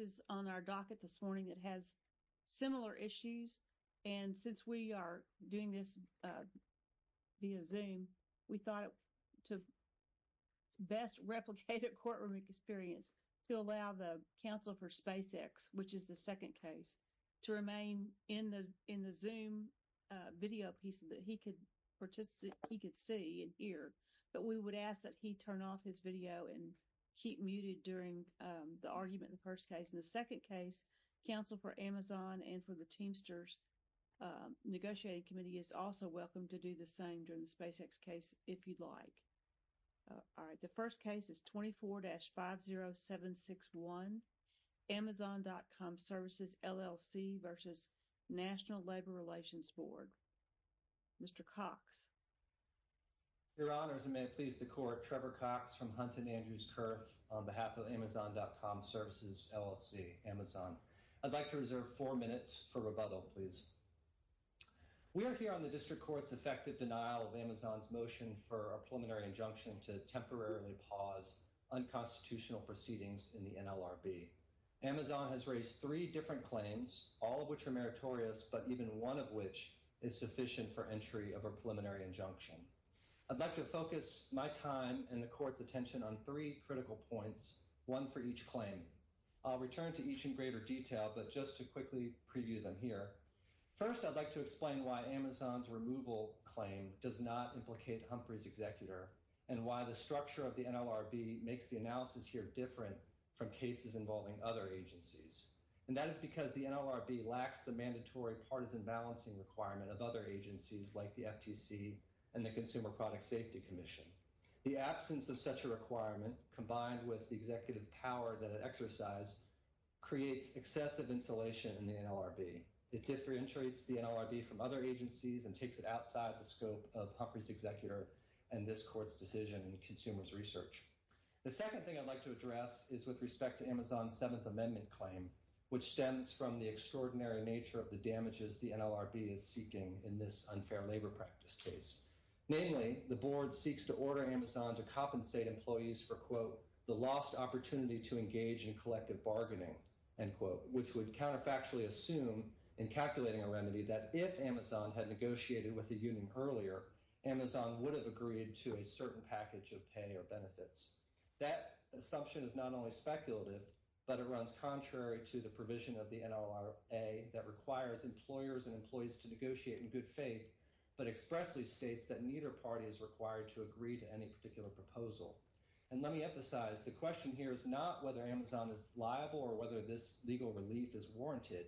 is on our docket this morning that has similar issues and since we are doing this via zoom we thought to best replicate a courtroom experience to allow the counsel for spacex which is the second case to remain in the in the zoom video piece that he could participate he could see and hear but we would ask that he turn off his video and keep muted during the argument in the second case counsel for amazon and for the teamsters negotiating committee is also welcome to do the same during the spacex case if you'd like all right the first case is 24-50761 amazon.com services llc versus national labor relations board mr cox your honor as i may please the court trevor cox from hunt and andrews kerf on behalf of amazon.com services llc amazon i'd like to reserve four minutes for rebuttal please we are here on the district court's effective denial of amazon's motion for a preliminary injunction to temporarily pause unconstitutional proceedings in the nlrb amazon has raised three different claims all of which are meritorious but even one of which is sufficient for entry of a preliminary injunction i'd like to focus my time and the court's attention on three critical points one for each claim i'll return to each in greater detail but just to quickly preview them here first i'd like to explain why amazon's removal claim does not implicate humphries executor and why the structure of the nlrb makes the analysis here different from cases involving other agencies and that is because the nlrb lacks the mandatory partisan balancing requirement of other agencies like the ftc and the consumer product safety commission the absence of such a requirement combined with the executive power that it exercised creates excessive insulation in the nlrb it differentiates the nlrb from other agencies and takes it outside the scope of humphries executor and this court's decision and consumers research the second thing i'd like to address is with respect to amazon's seventh amendment claim which stems from the extraordinary nature of the damages the nlrb is seeking in this unfair labor practice case namely the board seeks to order amazon to compensate employees for quote the lost opportunity to engage in collective bargaining end quote which would counterfactually assume in calculating a remedy that if amazon had negotiated with the union earlier amazon would have agreed to a certain package of pay or benefits that assumption is not only speculative but it runs contrary to the provision of the nlra that requires employers and employees to negotiate in good faith but expressly states that neither party is required to agree to any particular proposal and let me emphasize the question here is not whether amazon is liable or whether this legal relief is warranted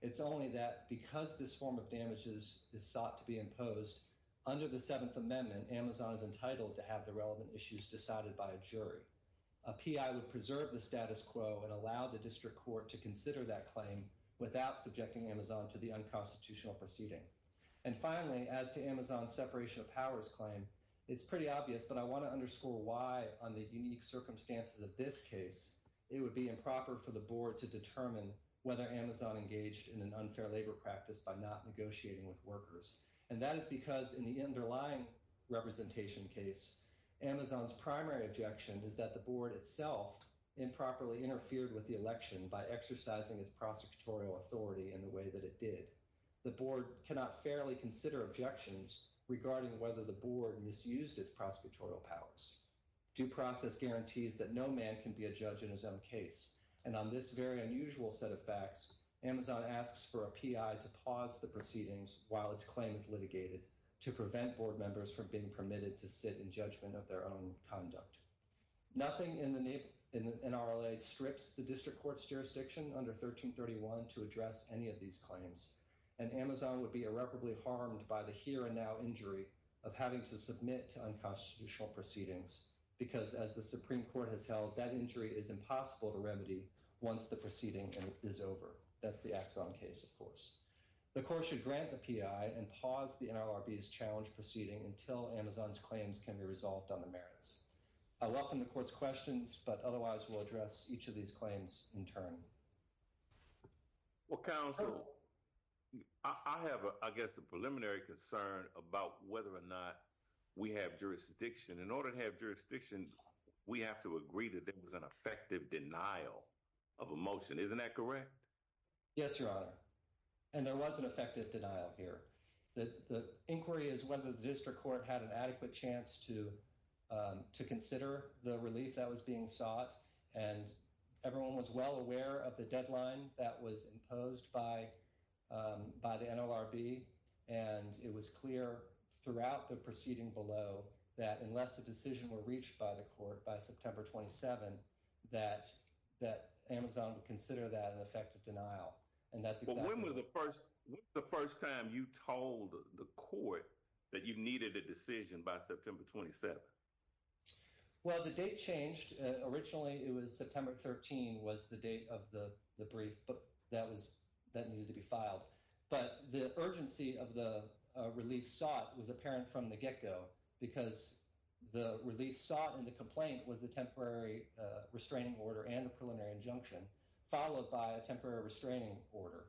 it's only that because this form of damages is sought to be imposed under the seventh amendment amazon is entitled to have the relevant issues decided by a jury a pi would preserve the status quo and allow the district court to consider that claim without subjecting amazon to the unconstitutional proceeding and finally as to amazon's separation of powers claim it's pretty obvious but i want to underscore why on the unique circumstances of this case it would be improper for the board to determine whether amazon engaged in an unfair labor practice by not negotiating with workers and that is because in the underlying representation case amazon's primary objection is that the board itself improperly interfered with the election by exercising its prosecutorial authority in the way that it did the board cannot fairly consider objections regarding whether the board misused its prosecutorial powers due process guarantees that no man can be a judge in his own case and on this very unusual set of facts amazon asks for a pi to pause the proceedings while its claim is litigated to prevent board members from being permitted to sit in judgment of their own conduct nothing in the name in the nlra strips the district court's jurisdiction under 1331 to address any of these claims and amazon would be irreparably harmed by the here and now injury of having to submit to unconstitutional proceedings because as the supreme court has held that injury is impossible to remedy once the proceeding is over that's the axon case of course the court should grant the pi and pause the nrb's challenge proceeding until amazon's claims can be resolved on the merits i welcome the court's questions but otherwise we'll address each of these claims in turn well counsel i have i guess a preliminary concern about whether or not we have jurisdiction in order to have jurisdiction we have to agree that there was an effective denial of a motion isn't that correct yes your honor and there was an effective denial here that the inquiry is whether the district court had an adequate chance to um to consider the relief that was being sought and everyone was well aware of the deadline that was imposed by um by the nlrb and it was clear throughout the proceeding below that unless the decision were reached by the court by september 27 that that amazon would consider that an effective denial and that's when was the first the first time you told the court that you needed a decision by september 27 well the date changed originally it was september 13 was the date of the the brief but that was that needed to be filed but the urgency of the relief sought was apparent from the get-go because the relief sought and the complaint was a temporary restraining order and a preliminary injunction followed by a temporary restraining order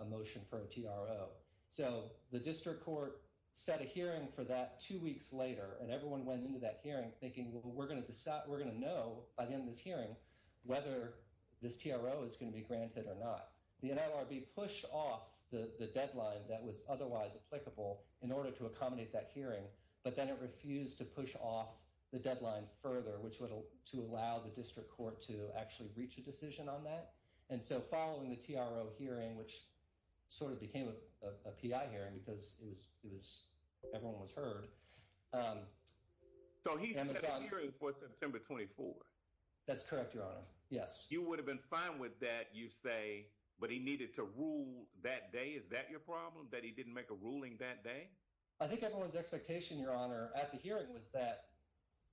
a motion for a tro so the district court set a hearing for that two weeks later and everyone went into that hearing thinking well we're going to decide we're going to know by the end of this hearing whether this tro is going to be granted or not the nlrb pushed off the the deadline that was otherwise applicable in order to accommodate that hearing but then it refused to push off the deadline further which would to allow the district court to actually reach a decision on that and so following the hearing which sort of became a pi hearing because it was it was everyone was heard so he's hearing for september 24 that's correct your honor yes you would have been fine with that you say but he needed to rule that day is that your problem that he didn't make a ruling that day i think everyone's expectation your honor at the hearing was that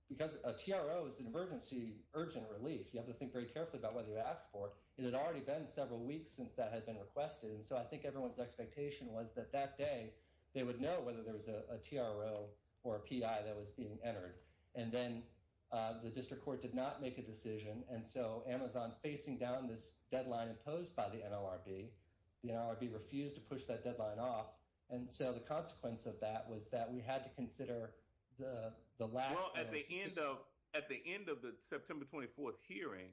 because a tro is an emergency urgent relief you have to think very carefully about whether you asked for it had already been several weeks since that had been requested and so i think everyone's expectation was that that day they would know whether there was a tro or a pi that was being entered and then the district court did not make a decision and so amazon facing down this deadline imposed by the nlrb the nlrb refused to push that deadline off and so the consequence of that was that we had to consider the the lack of at the end of at the end of the september 24th hearing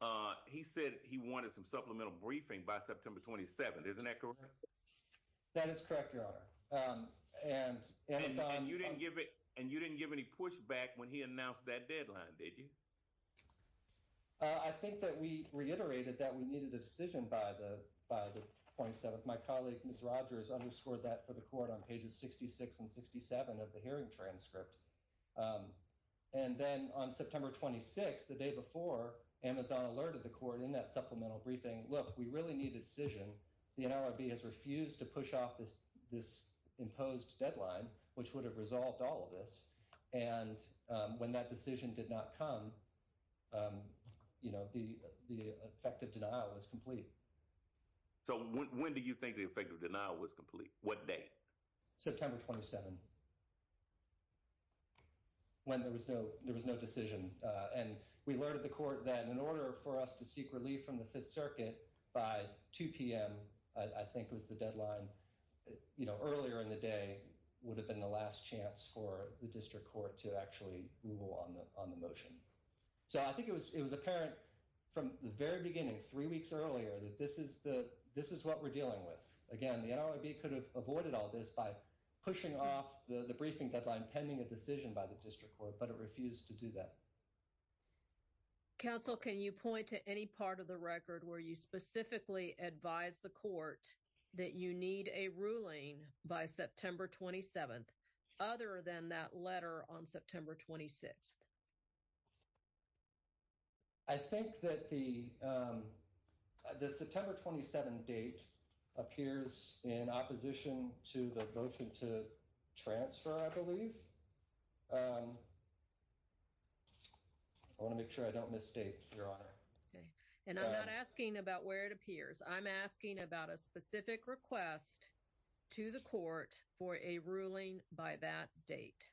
uh he said he wanted some supplemental briefing by september 27 isn't that correct that is correct your honor um and and you didn't give it and you didn't give any push back when he announced that deadline did you i think that we reiterated that we needed a decision by the by the 0.7 my colleague miss rogers underscored that for the court on pages 66 and 67 of the hearing transcript um and then on september 26 the day before amazon alerted the court in that supplemental briefing look we really need a decision the nlrb has refused to push off this this imposed deadline which would have resolved all of this and um when that decision did not come um you know the the effective denial was complete so when do you think the effective denial was complete what day september 27 when there was no there was no decision uh and we alerted the court then in order for us to seek relief from the fifth circuit by 2 p.m i i think was the deadline you know earlier in the day would have been the last chance for the district court to actually rule on the on the motion so i think it was it was apparent from the very beginning three weeks earlier that this is the this is what we're dealing with again the nlrb could have avoided all this by pushing off the the briefing deadline pending a decision by the district court but it refused to do that counsel can you point to any part of the record where you specifically advise the court that you need a ruling by september 27th other than that letter on september 26th i think that the um the september 27 date appears in opposition to the votion to transfer i believe i want to make sure i don't mistake your honor okay and i'm not asking about where it appears i'm asking about a specific request to the court for a ruling by that date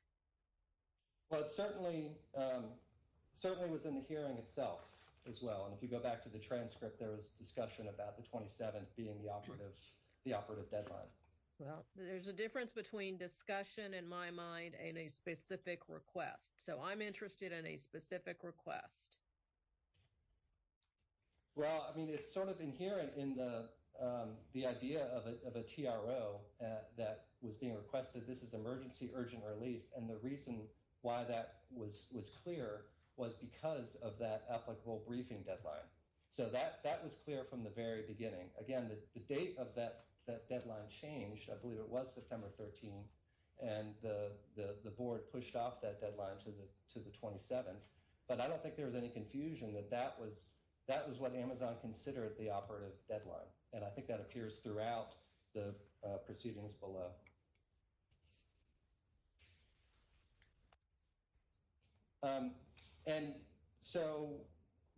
well it certainly um certainly was in the hearing itself as well and if you go back to the transcript there was discussion about the 27th being the operative the operative deadline well there's a difference between discussion in my mind and a specific request so i'm interested in a specific request well i mean it's sort of inherent in the um the idea of a tro that was being requested this is emergency urgent relief and the reason why that was was clear was because of that applicable briefing deadline so that that was clear from the very beginning again the date of that that deadline changed i believe it was september 13th and the the the board pushed off that deadline to the to the 27th but i don't think there was any confusion that that was that was what amazon considered the operative deadline and i think that appears throughout the proceedings below um and so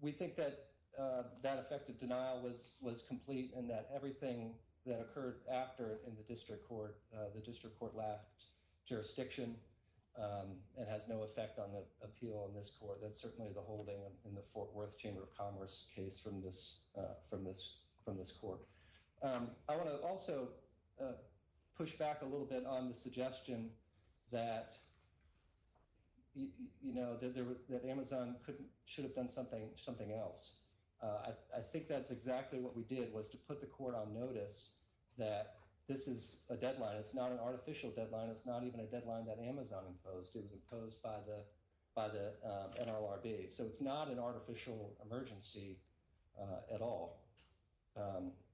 we think that uh that effective denial was was complete and that everything that occurred after in the district court the district court lacked jurisdiction um and has no effect on the appeal on this court that's certainly the holding in the fort worth chamber of commerce case from this uh from this from this court um i want to also push back a little bit on the suggestion that you know that there was that amazon couldn't should have done something something else uh i think that's exactly what we did was to put the court on notice that this is a deadline it's not an artificial deadline it's not even a deadline that amazon imposed it was imposed by the by the nrlb so it's not an artificial emergency uh at all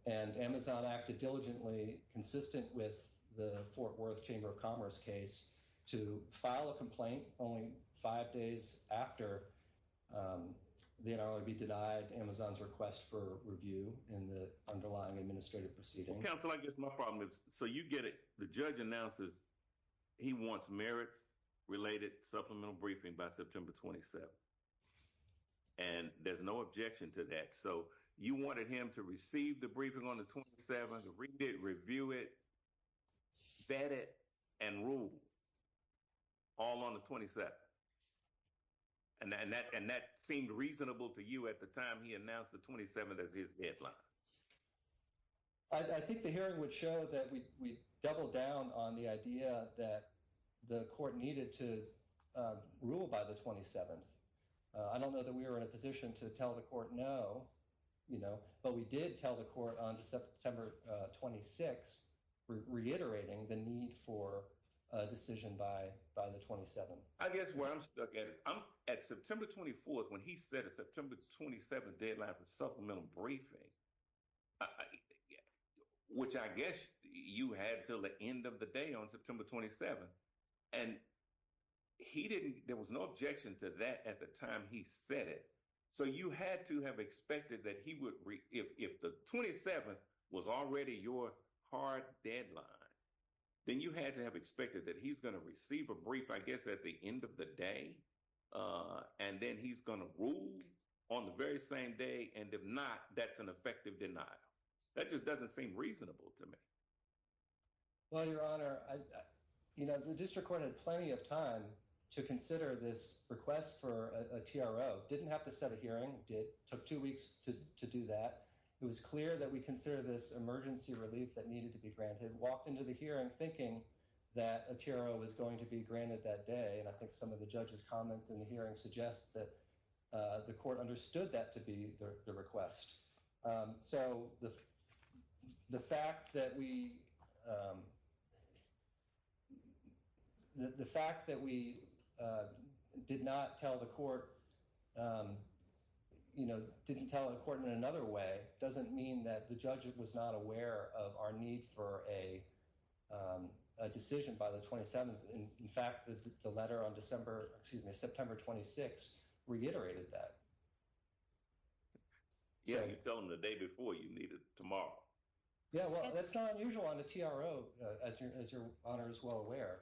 and amazon acted diligently consistent with the fort worth chamber of commerce case to file a complaint only five days after um the nrlb denied amazon's request for review in the underlying administrative proceeding counsel i guess my problem is so you get it the judge announces he wants merits related supplemental briefing by september 27th and there's no objection to that so you wanted him to receive the briefing on the 27th to read it review it vet it and rule all on the 27th and then that and that seemed reasonable to you at the time he announced the 27th as his deadline i think the hearing would show that we we doubled down on the idea that the court needed to rule by the 27th i don't know that we were in a position to tell the court no you know but we did tell the court on september 26th reiterating the need for a decision by by the 27th i guess where i'm stuck at i'm at september 24th when he said september 27th deadline for supplemental briefing which i guess you had till the end of the day on september 27th and he didn't there was no objection to that at the time he said it so you had to have expected that he would if if the 27th was already your hard deadline then you had to have expected that he's going to receive a brief i guess at the end of the day uh and then he's going to rule on the very same day and if not that's an effective denial that just doesn't seem reasonable to me well your honor i you know the district court had plenty of time to consider this request for a tro didn't have to set a hearing did took two weeks to to do that it was clear that we consider this emergency relief that needed to be granted walked into the hearing thinking that a tarot was going to be granted that day and i think some of the judges comments in the hearing suggest that uh the court understood that to be the request um so the the fact that we um the fact that we uh did not tell the court um you know didn't tell the court in another way doesn't mean that the judge was not aware of our need for a um a decision by the 27th in fact the letter on december excuse me september 26th reiterated that yeah you tell them the day before you need it tomorrow yeah well that's not unusual on the tro as your honor is well aware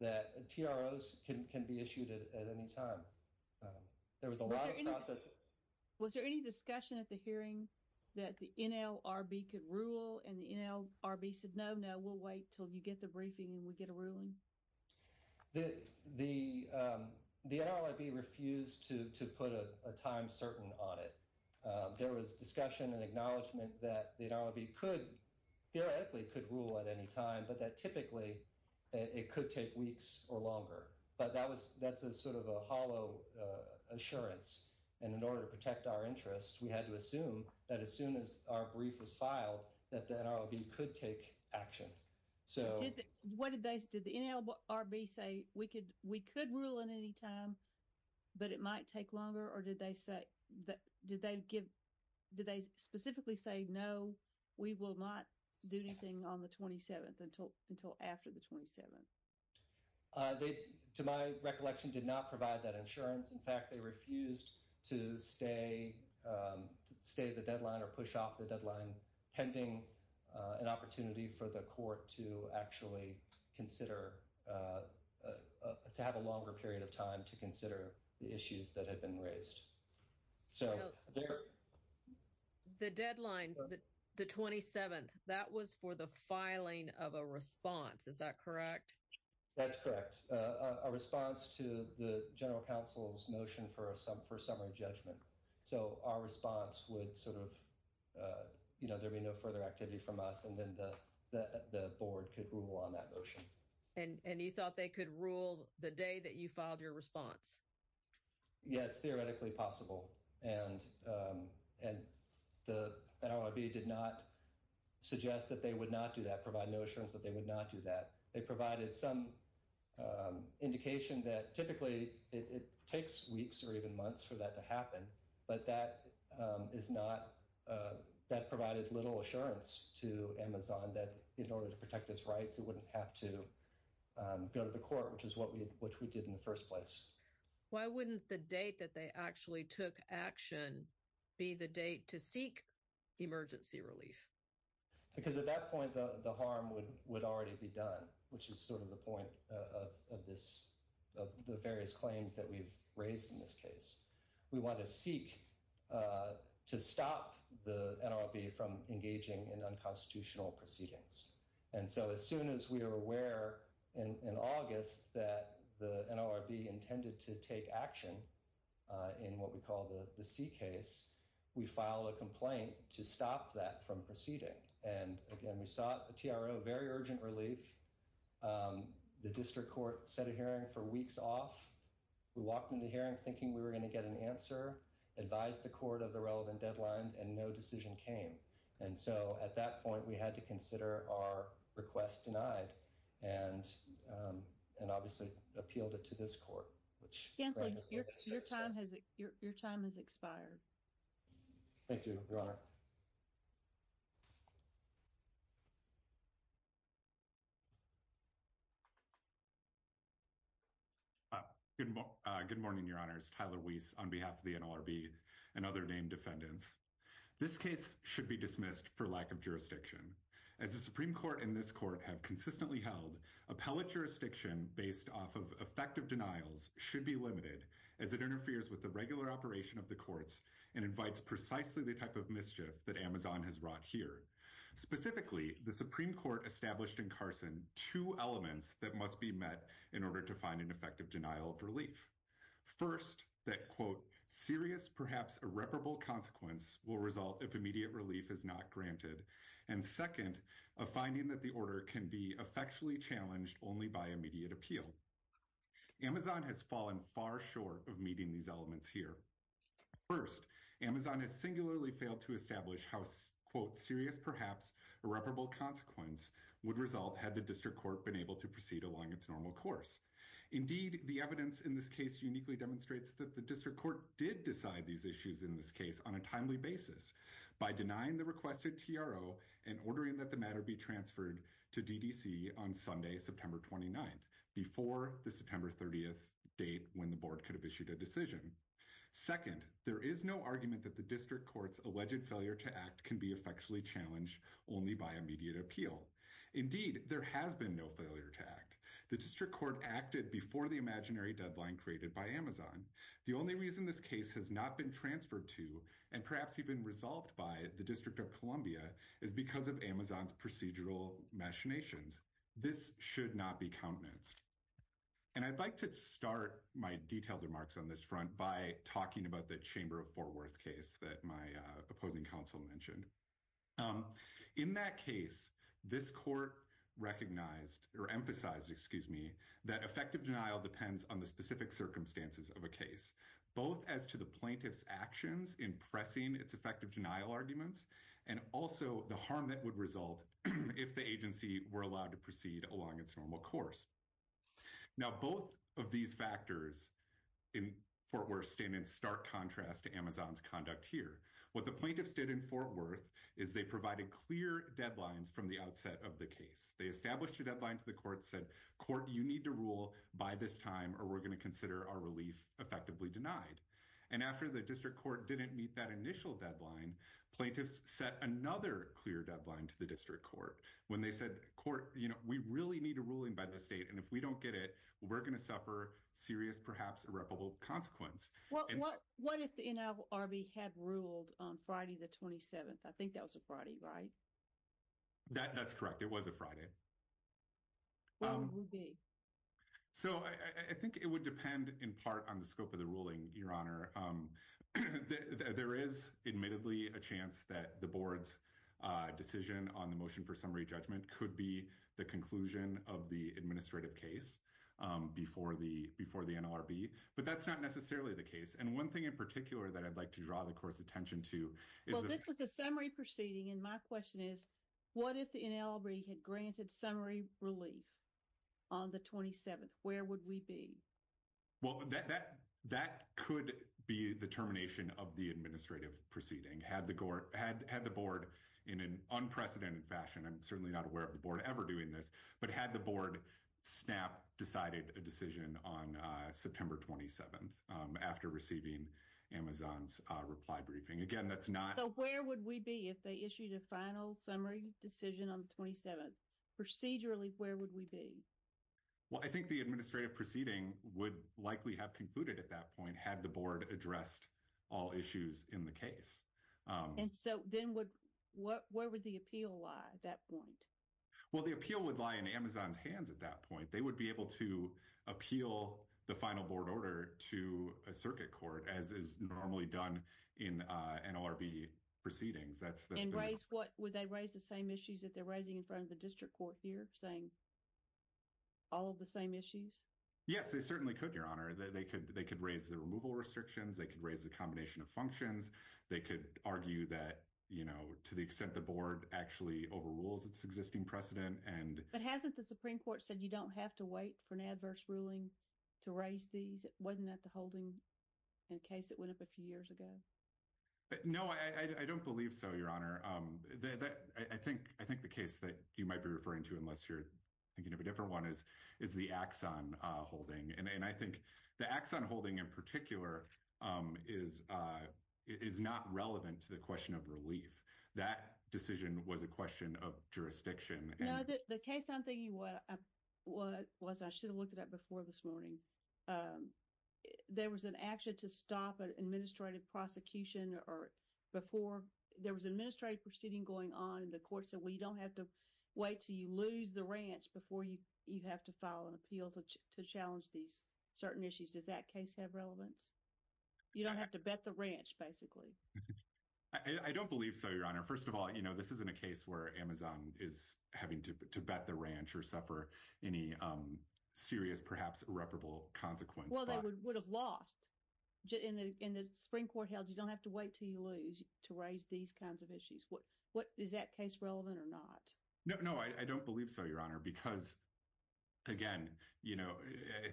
that tros can can be issued at any time um there was a lot of process was there any discussion at the hearing that the nlrb could rule and the nlrb said no no we'll wait till you get the briefing and we get a ruling the the um the nlrb refused to to put a time certain on it uh there was discussion and acknowledgement that the nlrb could theoretically could rule at any time but that typically it could take weeks or longer but that was that's a sort of a hollow assurance and in order to protect our interests we had to assume that as soon as our brief was filed that the nrlb could take action so what did they did the nlrb say we could we could rule in any time but it might take longer or did they say that did they give did they specifically say no we will not do anything on the 27th until until after the 27th uh they to my recollection did not provide that insurance in fact they refused to stay um to stay the deadline or push off the deadline pending uh an opportunity for the court to actually consider uh to have a longer period of time to consider the issues that had been raised so the deadline the 27th that was for the filing of a response is that correct that's correct uh a response to the general council's motion for a sum for summary judgment so our response would sort of uh you know there'd be no further activity from us and then the the board could rule on that motion and and you thought they could rule the day that you filed your response yes theoretically possible and um and the nrb did not suggest that they would not do that provide no assurance that they would not do that they provided some um indication that typically it takes weeks or even months for that to happen but that um is not uh that provided little assurance to amazon that in order to protect its rights it wouldn't have to um go to the court which is what we which we did in the first place why wouldn't the date that they actually took action be the date to seek emergency relief because at that point the the harm would would already be done which is sort of the point of of this of the various claims that we've raised in this case we want to seek uh to stop the nrb from engaging in unconstitutional proceedings and so as soon as we are aware in in august that the nrb intended to take action uh in what we call the the c case we file a complaint to stop that from proceeding and again we sought a tro very urgent relief um the district court set a hearing for weeks off we walked in the hearing thinking we were going to get an answer advised the court of the relevant deadlines and no decision came and so at that point we had to consider our request denied and um and obviously appealed it to this court which your time has your time has expired thank you your honor good uh good morning your honors tyler weiss on behalf of the nrb and other named defendants this case should be dismissed for lack of jurisdiction as the supreme court and this court have consistently held appellate jurisdiction based off of effective denials should be limited as it interferes with the regular operation of the courts and invites precisely the type of mischief that amazon has wrought here specifically the supreme court established in carson two elements that must be met in order to find an effective denial of relief first that quote serious perhaps irreparable consequence will result if immediate relief is not granted and second of finding that the order can be effectually challenged only by immediate appeal amazon has fallen far short of meeting these elements here first amazon has singularly failed to establish how quote serious perhaps irreparable consequence would result had the district court been able to proceed along its normal course indeed the evidence in this case uniquely demonstrates that the district court did decide these issues in this case on a timely basis by denying the requested tro and ordering that the matter be transferred to ddc on sunday september 29th before the september 30th date when the board could have issued a decision second there is no argument that the district court's alleged failure to act can be effectually challenged only by immediate appeal indeed there has been no failure to act the district court acted before the imaginary deadline created by amazon the only reason this case has not been transferred to and perhaps even resolved by the district of columbia is because of amazon's procedural machinations this should not be countenanced and i'd like to start my detailed remarks on this front by talking about the chamber of for worth case that my uh opposing counsel mentioned um in that case this court recognized or emphasized excuse me that effective denial depends on the specific circumstances of a case both as to the plaintiff's actions in pressing its effective denial arguments and also the harm that would result if the agency were allowed to proceed along its normal course now both of these factors in fort worth stand in stark contrast to amazon's conduct here what the plaintiffs did in fort worth is they provided clear deadlines from the outset of the case they established a deadline to the court said court you need to rule by this time or we're going to consider our relief effectively denied and after the district court didn't meet that initial deadline plaintiffs set another clear deadline to the district court when they said court you know we really need a ruling by the state and if we don't get it we're going to suffer serious perhaps irreparable consequence well what what if the nlrb had ruled on friday the 27th i think that was a friday right that that's correct it was a friday well it would be so i i think it would depend in part on the scope of the ruling your honor um there is admittedly a chance that the board's uh decision on the motion for summary judgment could be the conclusion of the administrative case um before the before the nlrb but that's not necessarily the case and one thing in particular that i'd like to draw the court's attention to is well this was a summary proceeding and my question is what if the nlb had granted summary relief on the 27th where would we be well that that that could be the termination of the administrative proceeding had the gore had had the board in an unprecedented fashion i'm certainly not aware of the board ever doing this but had the board snap decided a decision on uh september 27th um after receiving amazon's uh reply briefing again that's not so where would we be if they issued a final summary decision on the 27th procedurally where would we be well i think the administrative proceeding would likely have concluded at that point had the board addressed all issues in the case um and so then would what where would the that point well the appeal would lie in amazon's hands at that point they would be able to appeal the final board order to a circuit court as is normally done in uh nlrb proceedings that's that's right what would they raise the same issues that they're raising in front of the district court here saying all of the same issues yes they certainly could your honor that they could they could raise the removal restrictions they could raise the combination of functions they could argue that you know to the extent the board actually overrules its existing precedent and but hasn't the supreme court said you don't have to wait for an adverse ruling to raise these it wasn't at the holding in case it went up a few years ago no i i don't believe so your honor um that i think i think the case that you might be referring to unless you're thinking of a different one is is the axon uh holding and i think the axon holding in particular um is uh is not relevant to the question of relief that decision was a question of jurisdiction the case i'm thinking what what was i should have looked at before this morning there was an action to stop an administrative prosecution or before there was an administrative proceeding going on in the court so we don't have to wait till you lose the ranch before you you have to file an appeal to challenge these certain issues does that case have relevance you don't have to bet the ranch basically i don't believe so your honor first of all you know this isn't a case where amazon is having to bet the ranch or suffer any um serious perhaps irreparable consequence well they would have lost in the in the spring court held you don't have to wait till you lose to raise these kinds of issues what what is that case relevant or not no no i don't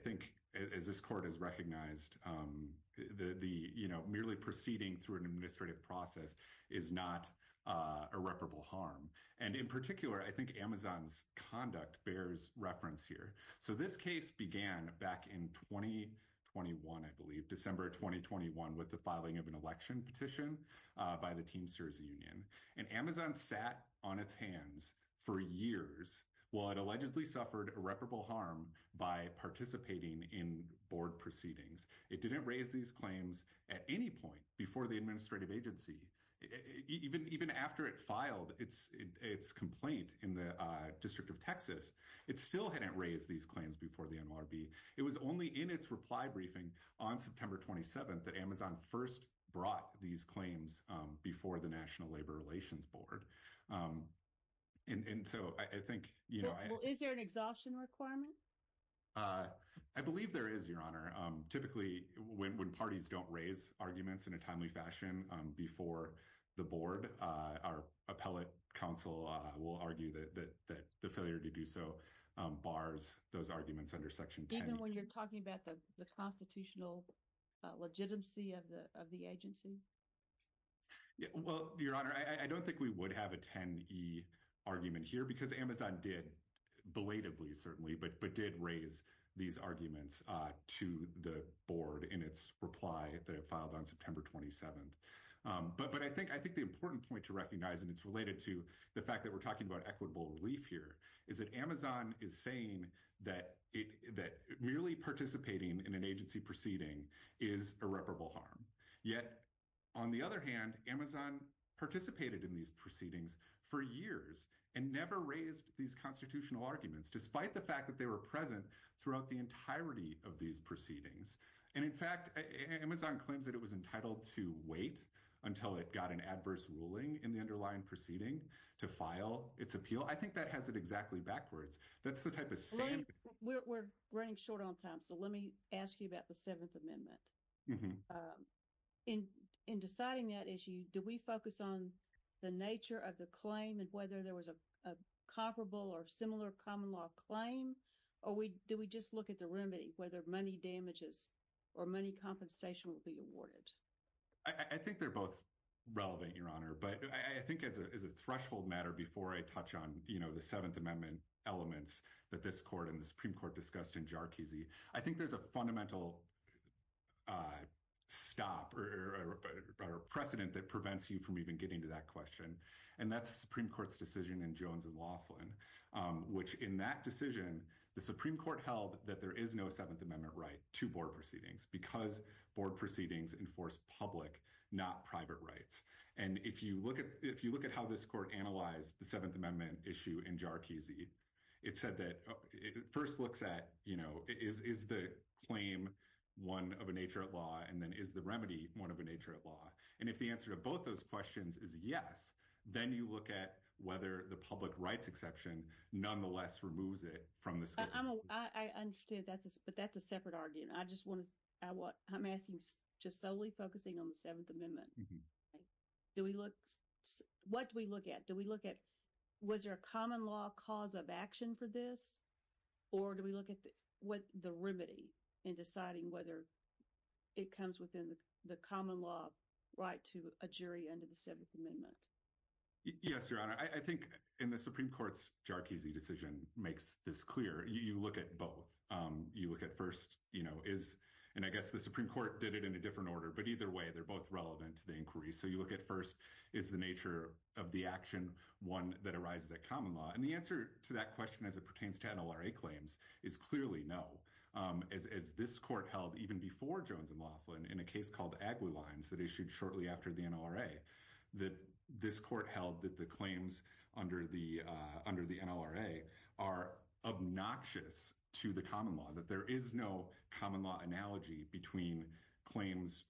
think that this court has recognized um the the you know merely proceeding through an administrative process is not uh irreparable harm and in particular i think amazon's conduct bears reference here so this case began back in 2021 i believe december 2021 with the filing of an election petition uh by the teamsters union and amazon sat on its hands for years while it allegedly suffered irreparable harm by participating in board proceedings it didn't raise these claims at any point before the administrative agency even even after it filed its its complaint in the uh district of texas it still hadn't raised these claims before the nrb it was only in its reply briefing on september 27th that amazon first brought these claims um before the national labor relations board um and and so i think you know is there an exhaustion requirement uh i believe there is your honor um typically when when parties don't raise arguments in a timely fashion um before the board uh our appellate council uh will argue that that that the failure to do so um bars those arguments under section 10 when you're talking about the the constitutional legitimacy of the agency well your honor i don't think we would have a 10 e argument here because amazon did belatedly certainly but but did raise these arguments uh to the board in its reply that it filed on september 27th um but but i think i think the important point to recognize and it's related to the fact that we're talking about equitable relief here is that amazon is saying that it that merely participating in an agency proceeding is irreparable harm yet on the other hand amazon participated in these proceedings for years and never raised these constitutional arguments despite the fact that they were present throughout the entirety of these proceedings and in fact amazon claims that it was entitled to wait until it got an adverse ruling in the underlying proceeding to file its appeal i think that has it exactly backwards that's the type of we're running short on time so let me ask you about the seventh amendment in in deciding that issue do we focus on the nature of the claim and whether there was a comparable or similar common law claim or we do we just look at the remedy whether money damages or money compensation will be awarded i i think they're both relevant your honor but i think as a threshold matter before i touch on you know the seventh amendment elements that this court and the supreme court discussed in jarkizi i think there's a fundamental uh stop or a precedent that prevents you from even getting to that question and that's the supreme court's decision in jones and laughlin um which in that decision the supreme court held that there is no seventh amendment right to board proceedings because board proceedings enforce public not private rights and if you look at if you look at how this court analyzed the seventh amendment issue in jarkizi it said that it first looks at you know is is the claim one of a nature of law and then is the remedy one of a nature of law and if the answer to both those questions is yes then you look at whether the public rights exception nonetheless removes it from the school i'm i understand that's but that's a separate argument i just want to i want i'm asking just solely focusing on the seventh amendment do we look what do we look at do we look at was there a common law cause of action for this or do we look at what the remedy in deciding whether it comes within the common law right to a jury under the seventh amendment yes your honor i think in the supreme court's jarkizi decision makes this clear you look at both um you look at first you know is and i guess the supreme court did it in a different order but either way they're both relevant to the inquiry so you look at first is the nature of the action one that arises at common law and the answer to that question as it pertains to nlra claims is clearly no um as as this court held even before jones and laughlin in a case called aguilines that issued shortly after the nlra that this court held that the claims under the uh under the nlra are obnoxious to the common law that there is no common law analogy between claims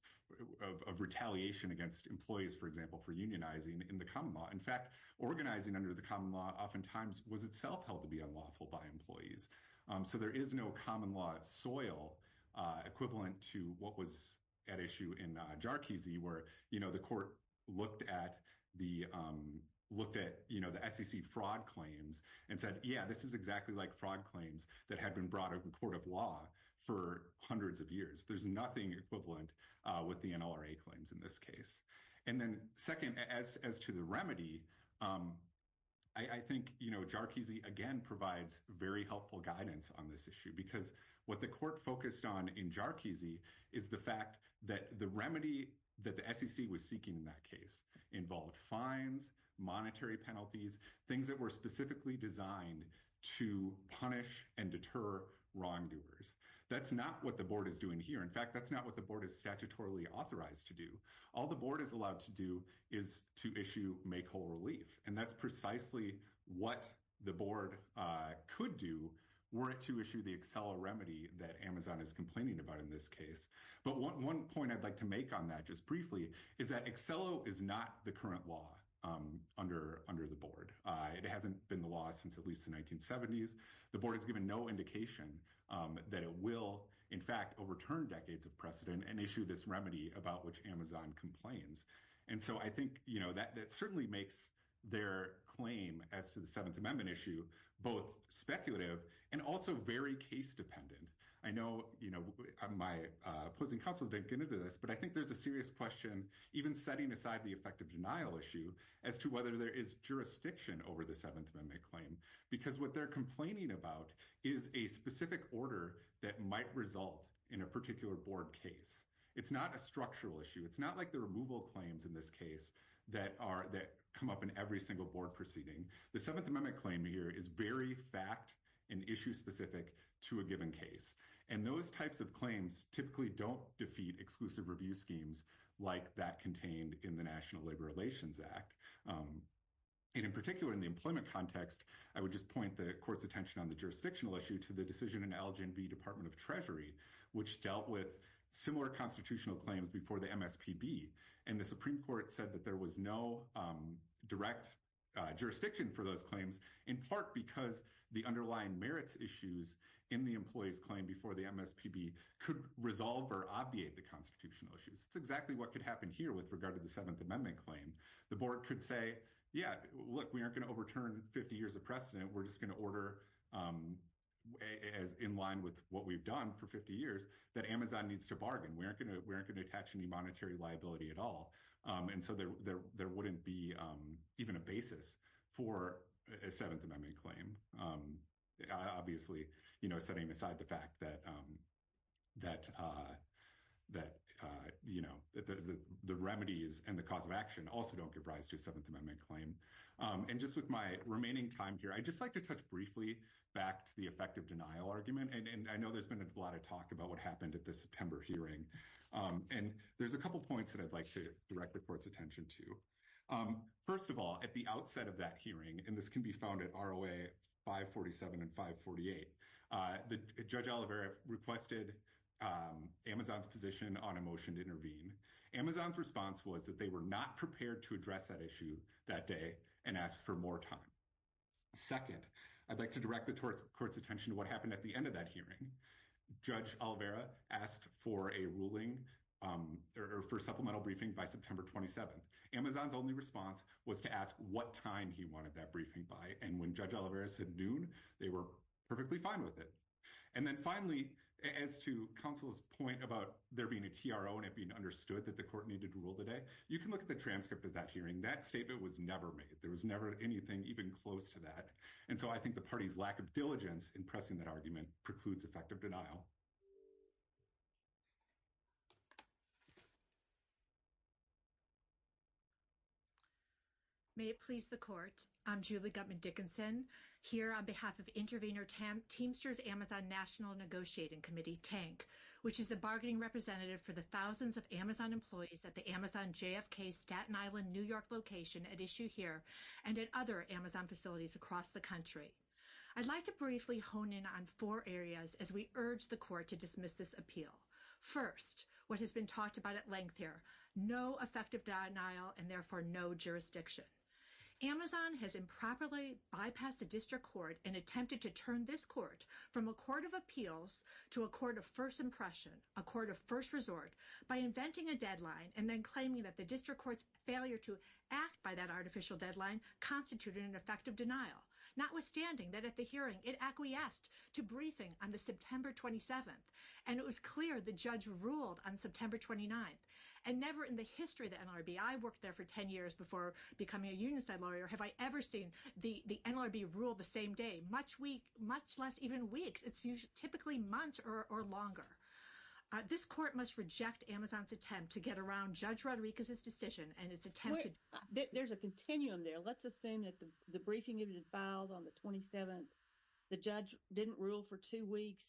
of retaliation against employees for example for unionizing in the common law in fact organizing under the common law oftentimes was itself held to be unlawful by employees um so there is no common law soil uh equivalent to what was at issue in jarkizi where you know the court looked at the um looked at you know the sec fraud claims and said yeah this is fraud claims that had been brought to the court of law for hundreds of years there's nothing equivalent uh with the nlra claims in this case and then second as as to the remedy um i i think you know jarkizi again provides very helpful guidance on this issue because what the court focused on in jarkizi is the fact that the remedy that the sec was seeking in that case involved fines monetary penalties things that were specifically designed to punish and deter wrongdoers that's not what the board is doing here in fact that's not what the board is statutorily authorized to do all the board is allowed to do is to issue make whole relief and that's precisely what the board uh could do were it to issue the excel remedy that amazon is complaining about in this case but one point i'd like to make on that just briefly is that excello is not the current law um under under the board uh it hasn't been the law since at least the 1970s the board has given no indication um that it will in fact overturn decades of precedent and issue this remedy about which amazon complains and so i think you know that that certainly makes their claim as to the seventh amendment issue both speculative and also very case dependent i know you know my opposing counsel didn't get into this but i think there's a serious question even setting aside the effective denial issue as to whether there is jurisdiction over the seventh amendment claim because what they're complaining about is a specific order that might result in a particular board case it's not a structural issue it's not like the removal claims in this case that are that come up in every single board proceeding the seventh amendment claim here is very fact and issue specific to a given case and those types of claims typically don't defeat exclusive review schemes like that contained in the national labor relations act um and in particular in the employment context i would just point the court's attention on the jurisdictional issue to the decision in lgnb department of treasury which dealt with similar constitutional claims before the mspb and the supreme court said that there was no um direct uh jurisdiction for those claims in part because the underlying merits issues in the employee's claim before the mspb could resolve or obviate the constitutional issues that's exactly what could happen here with regard to the seventh amendment claim the board could say yeah look we aren't going to overturn 50 years of precedent we're just going to order um as in line with what we've done for 50 years that amazon needs to bargain we aren't going to we aren't going to attach any monetary liability at all um and so there there wouldn't be um even a basis for a seventh amendment claim um obviously you know setting aside the fact that um that uh that uh you know that the the remedies and the cause of action also don't give rise to a seventh amendment claim um and just with my remaining time here i'd just like to touch briefly back to the effective denial argument and i know there's been a lot of talk about what happened at the september hearing um and there's a couple points that i'd like to direct the court's attention to um first of all at the outset of that hearing and this can be found at roa 547 and 548 uh the judge olivera requested um amazon's position on a motion to intervene amazon's response was that they were not prepared to address that issue that day and ask for more time second i'd like to direct the court's attention to what happened at the end of that hearing judge olivera asked for a ruling um or for supplemental briefing by september 27th amazon's only response was to ask what time he wanted that briefing by and when judge olivera said noon they were perfectly fine with it and then finally as to counsel's point about there being a tro and it being understood that the court needed to rule the day you can look at the transcript of that hearing that statement was never made there was never anything even close to that and so i think the party's lack of diligence in pressing that argument precludes effective denial may it please the court i'm julie gutman dickinson here on behalf of intervener tam teamsters amazon national negotiating committee tank which is the bargaining representative for the thousands of amazon employees at the amazon jfk staten island new york location at issue here and at other we urge the court to dismiss this appeal first what has been talked about at length here no effective denial and therefore no jurisdiction amazon has improperly bypassed the district court and attempted to turn this court from a court of appeals to a court of first impression a court of first resort by inventing a deadline and then claiming that the district court's failure to act by that artificial deadline constituted an effective denial notwithstanding that at the hearing it acquiesced to briefing on the september 27th and it was clear the judge ruled on september 29th and never in the history of the nlrb i worked there for 10 years before becoming a union side lawyer have i ever seen the the nlrb rule the same day much week much less even weeks it's usually typically months or or longer uh this court must reject amazon's attempt to get around judge rodriguez's decision and it's attempted there's a continuum there let's assume that the briefing it had filed on the 27th the judge didn't rule for two weeks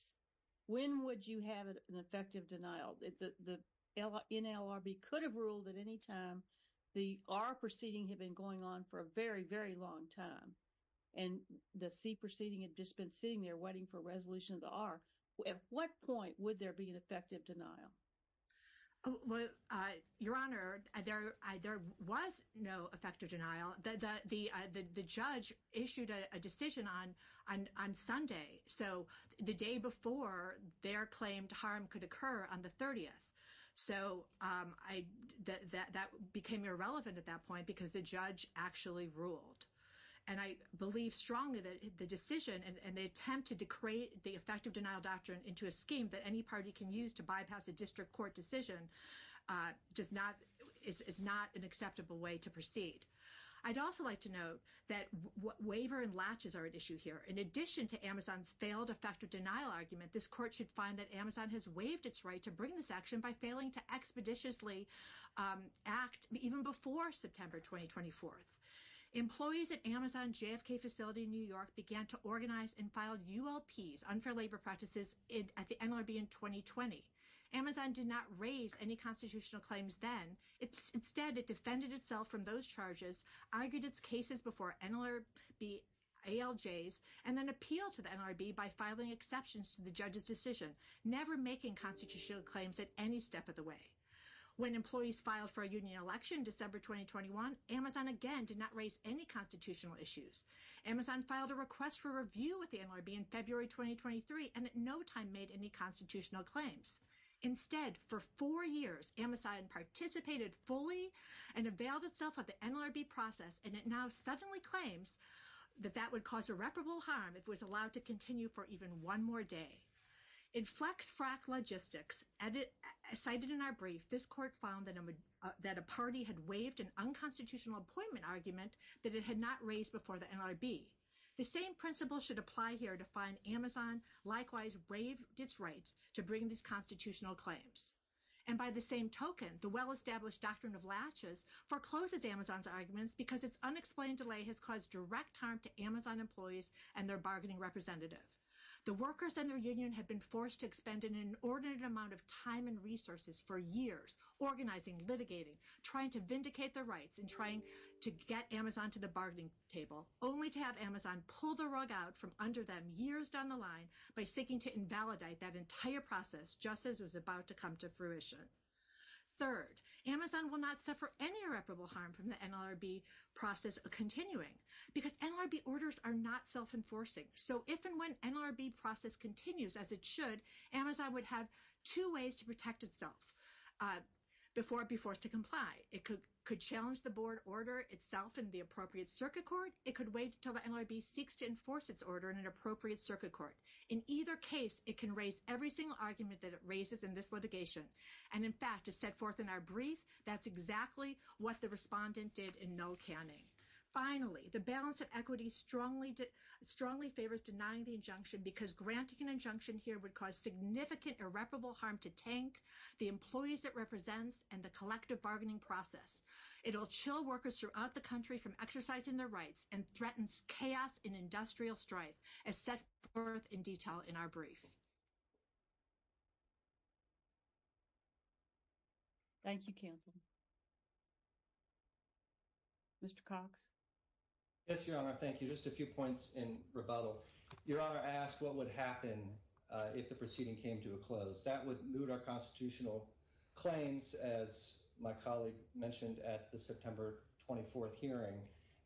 when would you have an effective denial the the nlrb could have ruled at any time the r proceeding had been going on for a very very long time and the c proceeding had just been sitting there waiting for resolution of the r at what point would there be an effective denial well uh your honor i there was no effective denial the the uh the the judge issued a decision on on on sunday so the day before their claimed harm could occur on the 30th so um i that that became irrelevant at that point because the judge actually ruled and i believe strongly that the decision and the attempt to decree the effective denial doctrine into a scheme that any party can use to bypass a court decision uh does not it's not an acceptable way to proceed i'd also like to note that what waiver and latches are at issue here in addition to amazon's failed effective denial argument this court should find that amazon has waived its right to bring this action by failing to expeditiously act even before september 2024th employees at amazon jfk facility new york began to organize and filed ulps unfair labor practices at the nlrb in 2020 amazon did not raise any constitutional claims then it's instead it defended itself from those charges argued its cases before nlr be aljs and then appealed to the nlrb by filing exceptions to the judge's decision never making constitutional claims at any step of the way when employees filed for a union election december 2021 amazon again did not raise any constitutional issues amazon filed a request for review with the nlrb in february 2023 and at no time made any constitutional claims instead for four years amazon participated fully and availed itself of the nlrb process and it now suddenly claims that that would cause irreparable harm if it was allowed to continue for even one more day in flex frack logistics edit cited in our brief this court found that a that a party had waived an unconstitutional appointment argument that it had not raised before the nlrb the same principle should apply here to find amazon likewise waived its rights to bring these constitutional claims and by the same token the well-established doctrine of latches forecloses amazon's arguments because its unexplained delay has caused direct harm to amazon employees and their bargaining representative the workers and their union have been forced to expend an inordinate amount of time and resources for years organizing litigating trying to vindicate their to get amazon to the bargaining table only to have amazon pull the rug out from under them years down the line by seeking to invalidate that entire process just as was about to come to fruition third amazon will not suffer any irreparable harm from the nlrb process continuing because nlrb orders are not self-enforcing so if and when nlrb process continues as it should amazon would have two ways to protect itself uh before it be forced to comply it could could challenge the board order itself in the appropriate circuit court it could wait until the nlrb seeks to enforce its order in an appropriate circuit court in either case it can raise every single argument that it raises in this litigation and in fact is set forth in our brief that's exactly what the respondent did in no canning finally the balance of equity strongly strongly favors denying the injunction because granting an injunction here would cause significant irreparable harm to tank the employees it represents and the collective bargaining process it'll chill workers throughout the country from exercising their rights and threatens chaos in industrial strife as set forth in detail in our brief thank you counsel mr cox yes your honor thank you just a few points in rebuttal your honor i asked what would happen if the proceeding came to a close that would moot our constitutional claims as my colleague mentioned at the september 24th hearing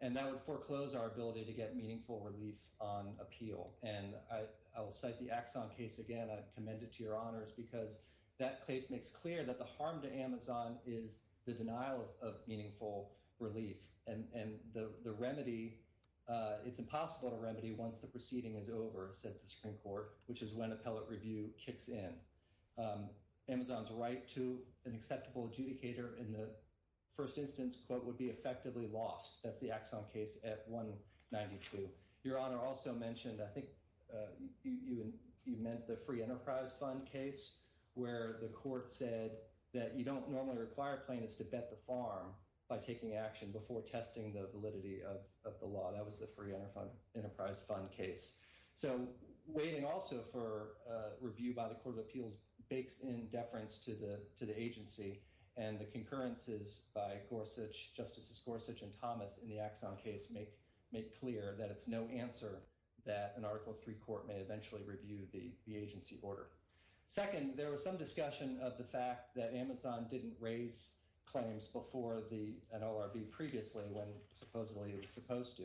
and that would foreclose our ability to get meaningful relief on appeal and i i will cite the axon case again i commend it to your honors because that case makes clear that the harm to amazon is the fact that the nlrb process the denial of meaningful relief and and the the remedy uh it's impossible to remedy once the proceeding is over said the supreme court which is when appellate review kicks in um amazon's right to an acceptable adjudicator in the first instance quote would be effectively lost that's the axon case at 192 your honor also mentioned i think you and you meant the free enterprise fund case where the court said that you don't normally require plaintiffs to bet the farm by taking action before testing the validity of of the law that was the free enterprise enterprise fund case so waiting also for uh review by the court of appeals bakes in deference to the to the agency and the concurrences by gorsuch justices gorsuch and thomas in the axon case make make clear that it's no answer that an article three court may eventually review the the agency order second there was some discussion of the fact that amazon didn't raise claims before the nlrb previously when supposedly it was supposed to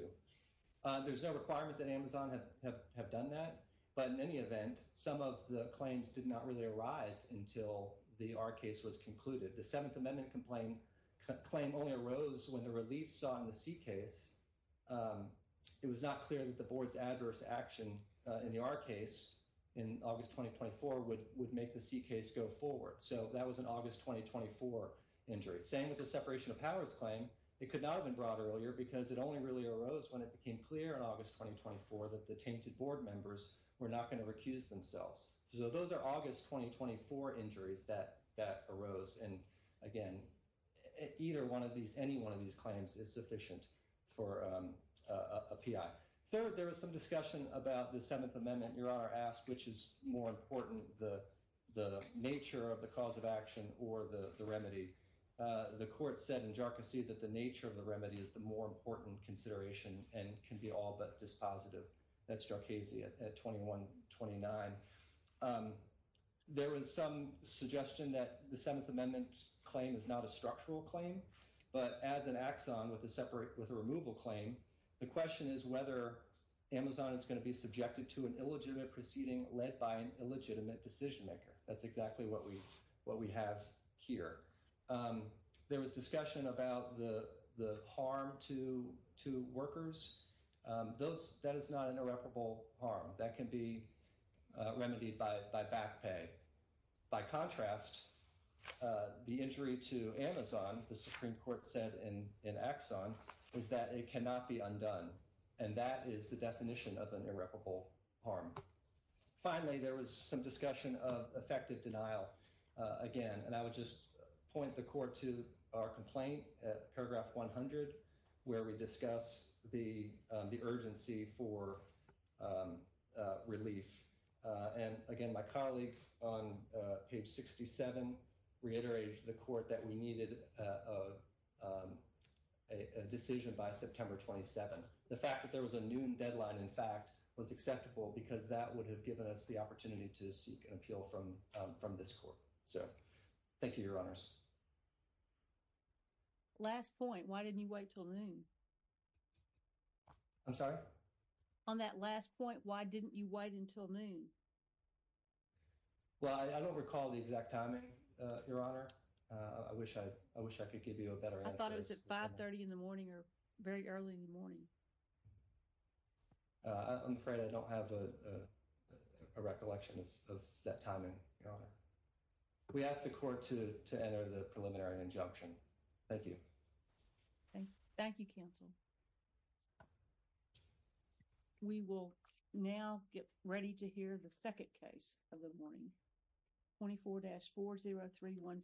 uh there's no requirement that amazon have have done that but in any event some of the claims did not really arise until the r case was concluded the seventh amendment complaint claim only arose when the relief saw in the c case um it was not clear that the board's adverse action in the r case in august 2024 would would make the c case go forward so that was an august 2024 injury same with the separation of powers claim it could not have been brought earlier because it only really arose when it became clear in august 2024 that the tainted board members were not going to recuse themselves so those are august 2024 injuries that that arose and again either one of these any one of these claims is sufficient for a p.i third there was some discussion about the seventh amendment your honor asked which is more important the the nature of the cause of action or the the remedy uh the court said in jarcusy that the nature of the remedy is the more important consideration and can be all but dispositive that's jarcasey at 21 29 um there was some suggestion that the seventh amendment claim is not a structural claim but as an axon with a separate with a removal claim the question is whether amazon is going to be subjected to an illegitimate proceeding led by an illegitimate decision maker that's exactly what we what we have here um there was discussion about the the harm to to workers um those that is not an harm that can be remedied by by back pay by contrast uh the injury to amazon the supreme court said in in axon is that it cannot be undone and that is the definition of an irreparable harm finally there was some discussion of effective denial uh again and i would just point the court to our complaint at paragraph 100 where we discuss the the urgency for um uh relief uh and again my colleague on page 67 reiterated to the court that we needed a decision by september 27 the fact that there was a noon deadline in fact was acceptable because that would have given us opportunity to seek an appeal from um from this court so thank you your honors last point why didn't you wait till noon i'm sorry on that last point why didn't you wait until noon well i don't recall the exact timing uh your honor uh i wish i i wish i could give you a better answer i thought it was at 5 30 in the morning or very early in the morning uh i'm afraid i don't have a a recollection of that timing your honor we asked the court to to enter the preliminary injunction thank you thank you counsel we will now get ready to hear the second case of the morning 24-40315 you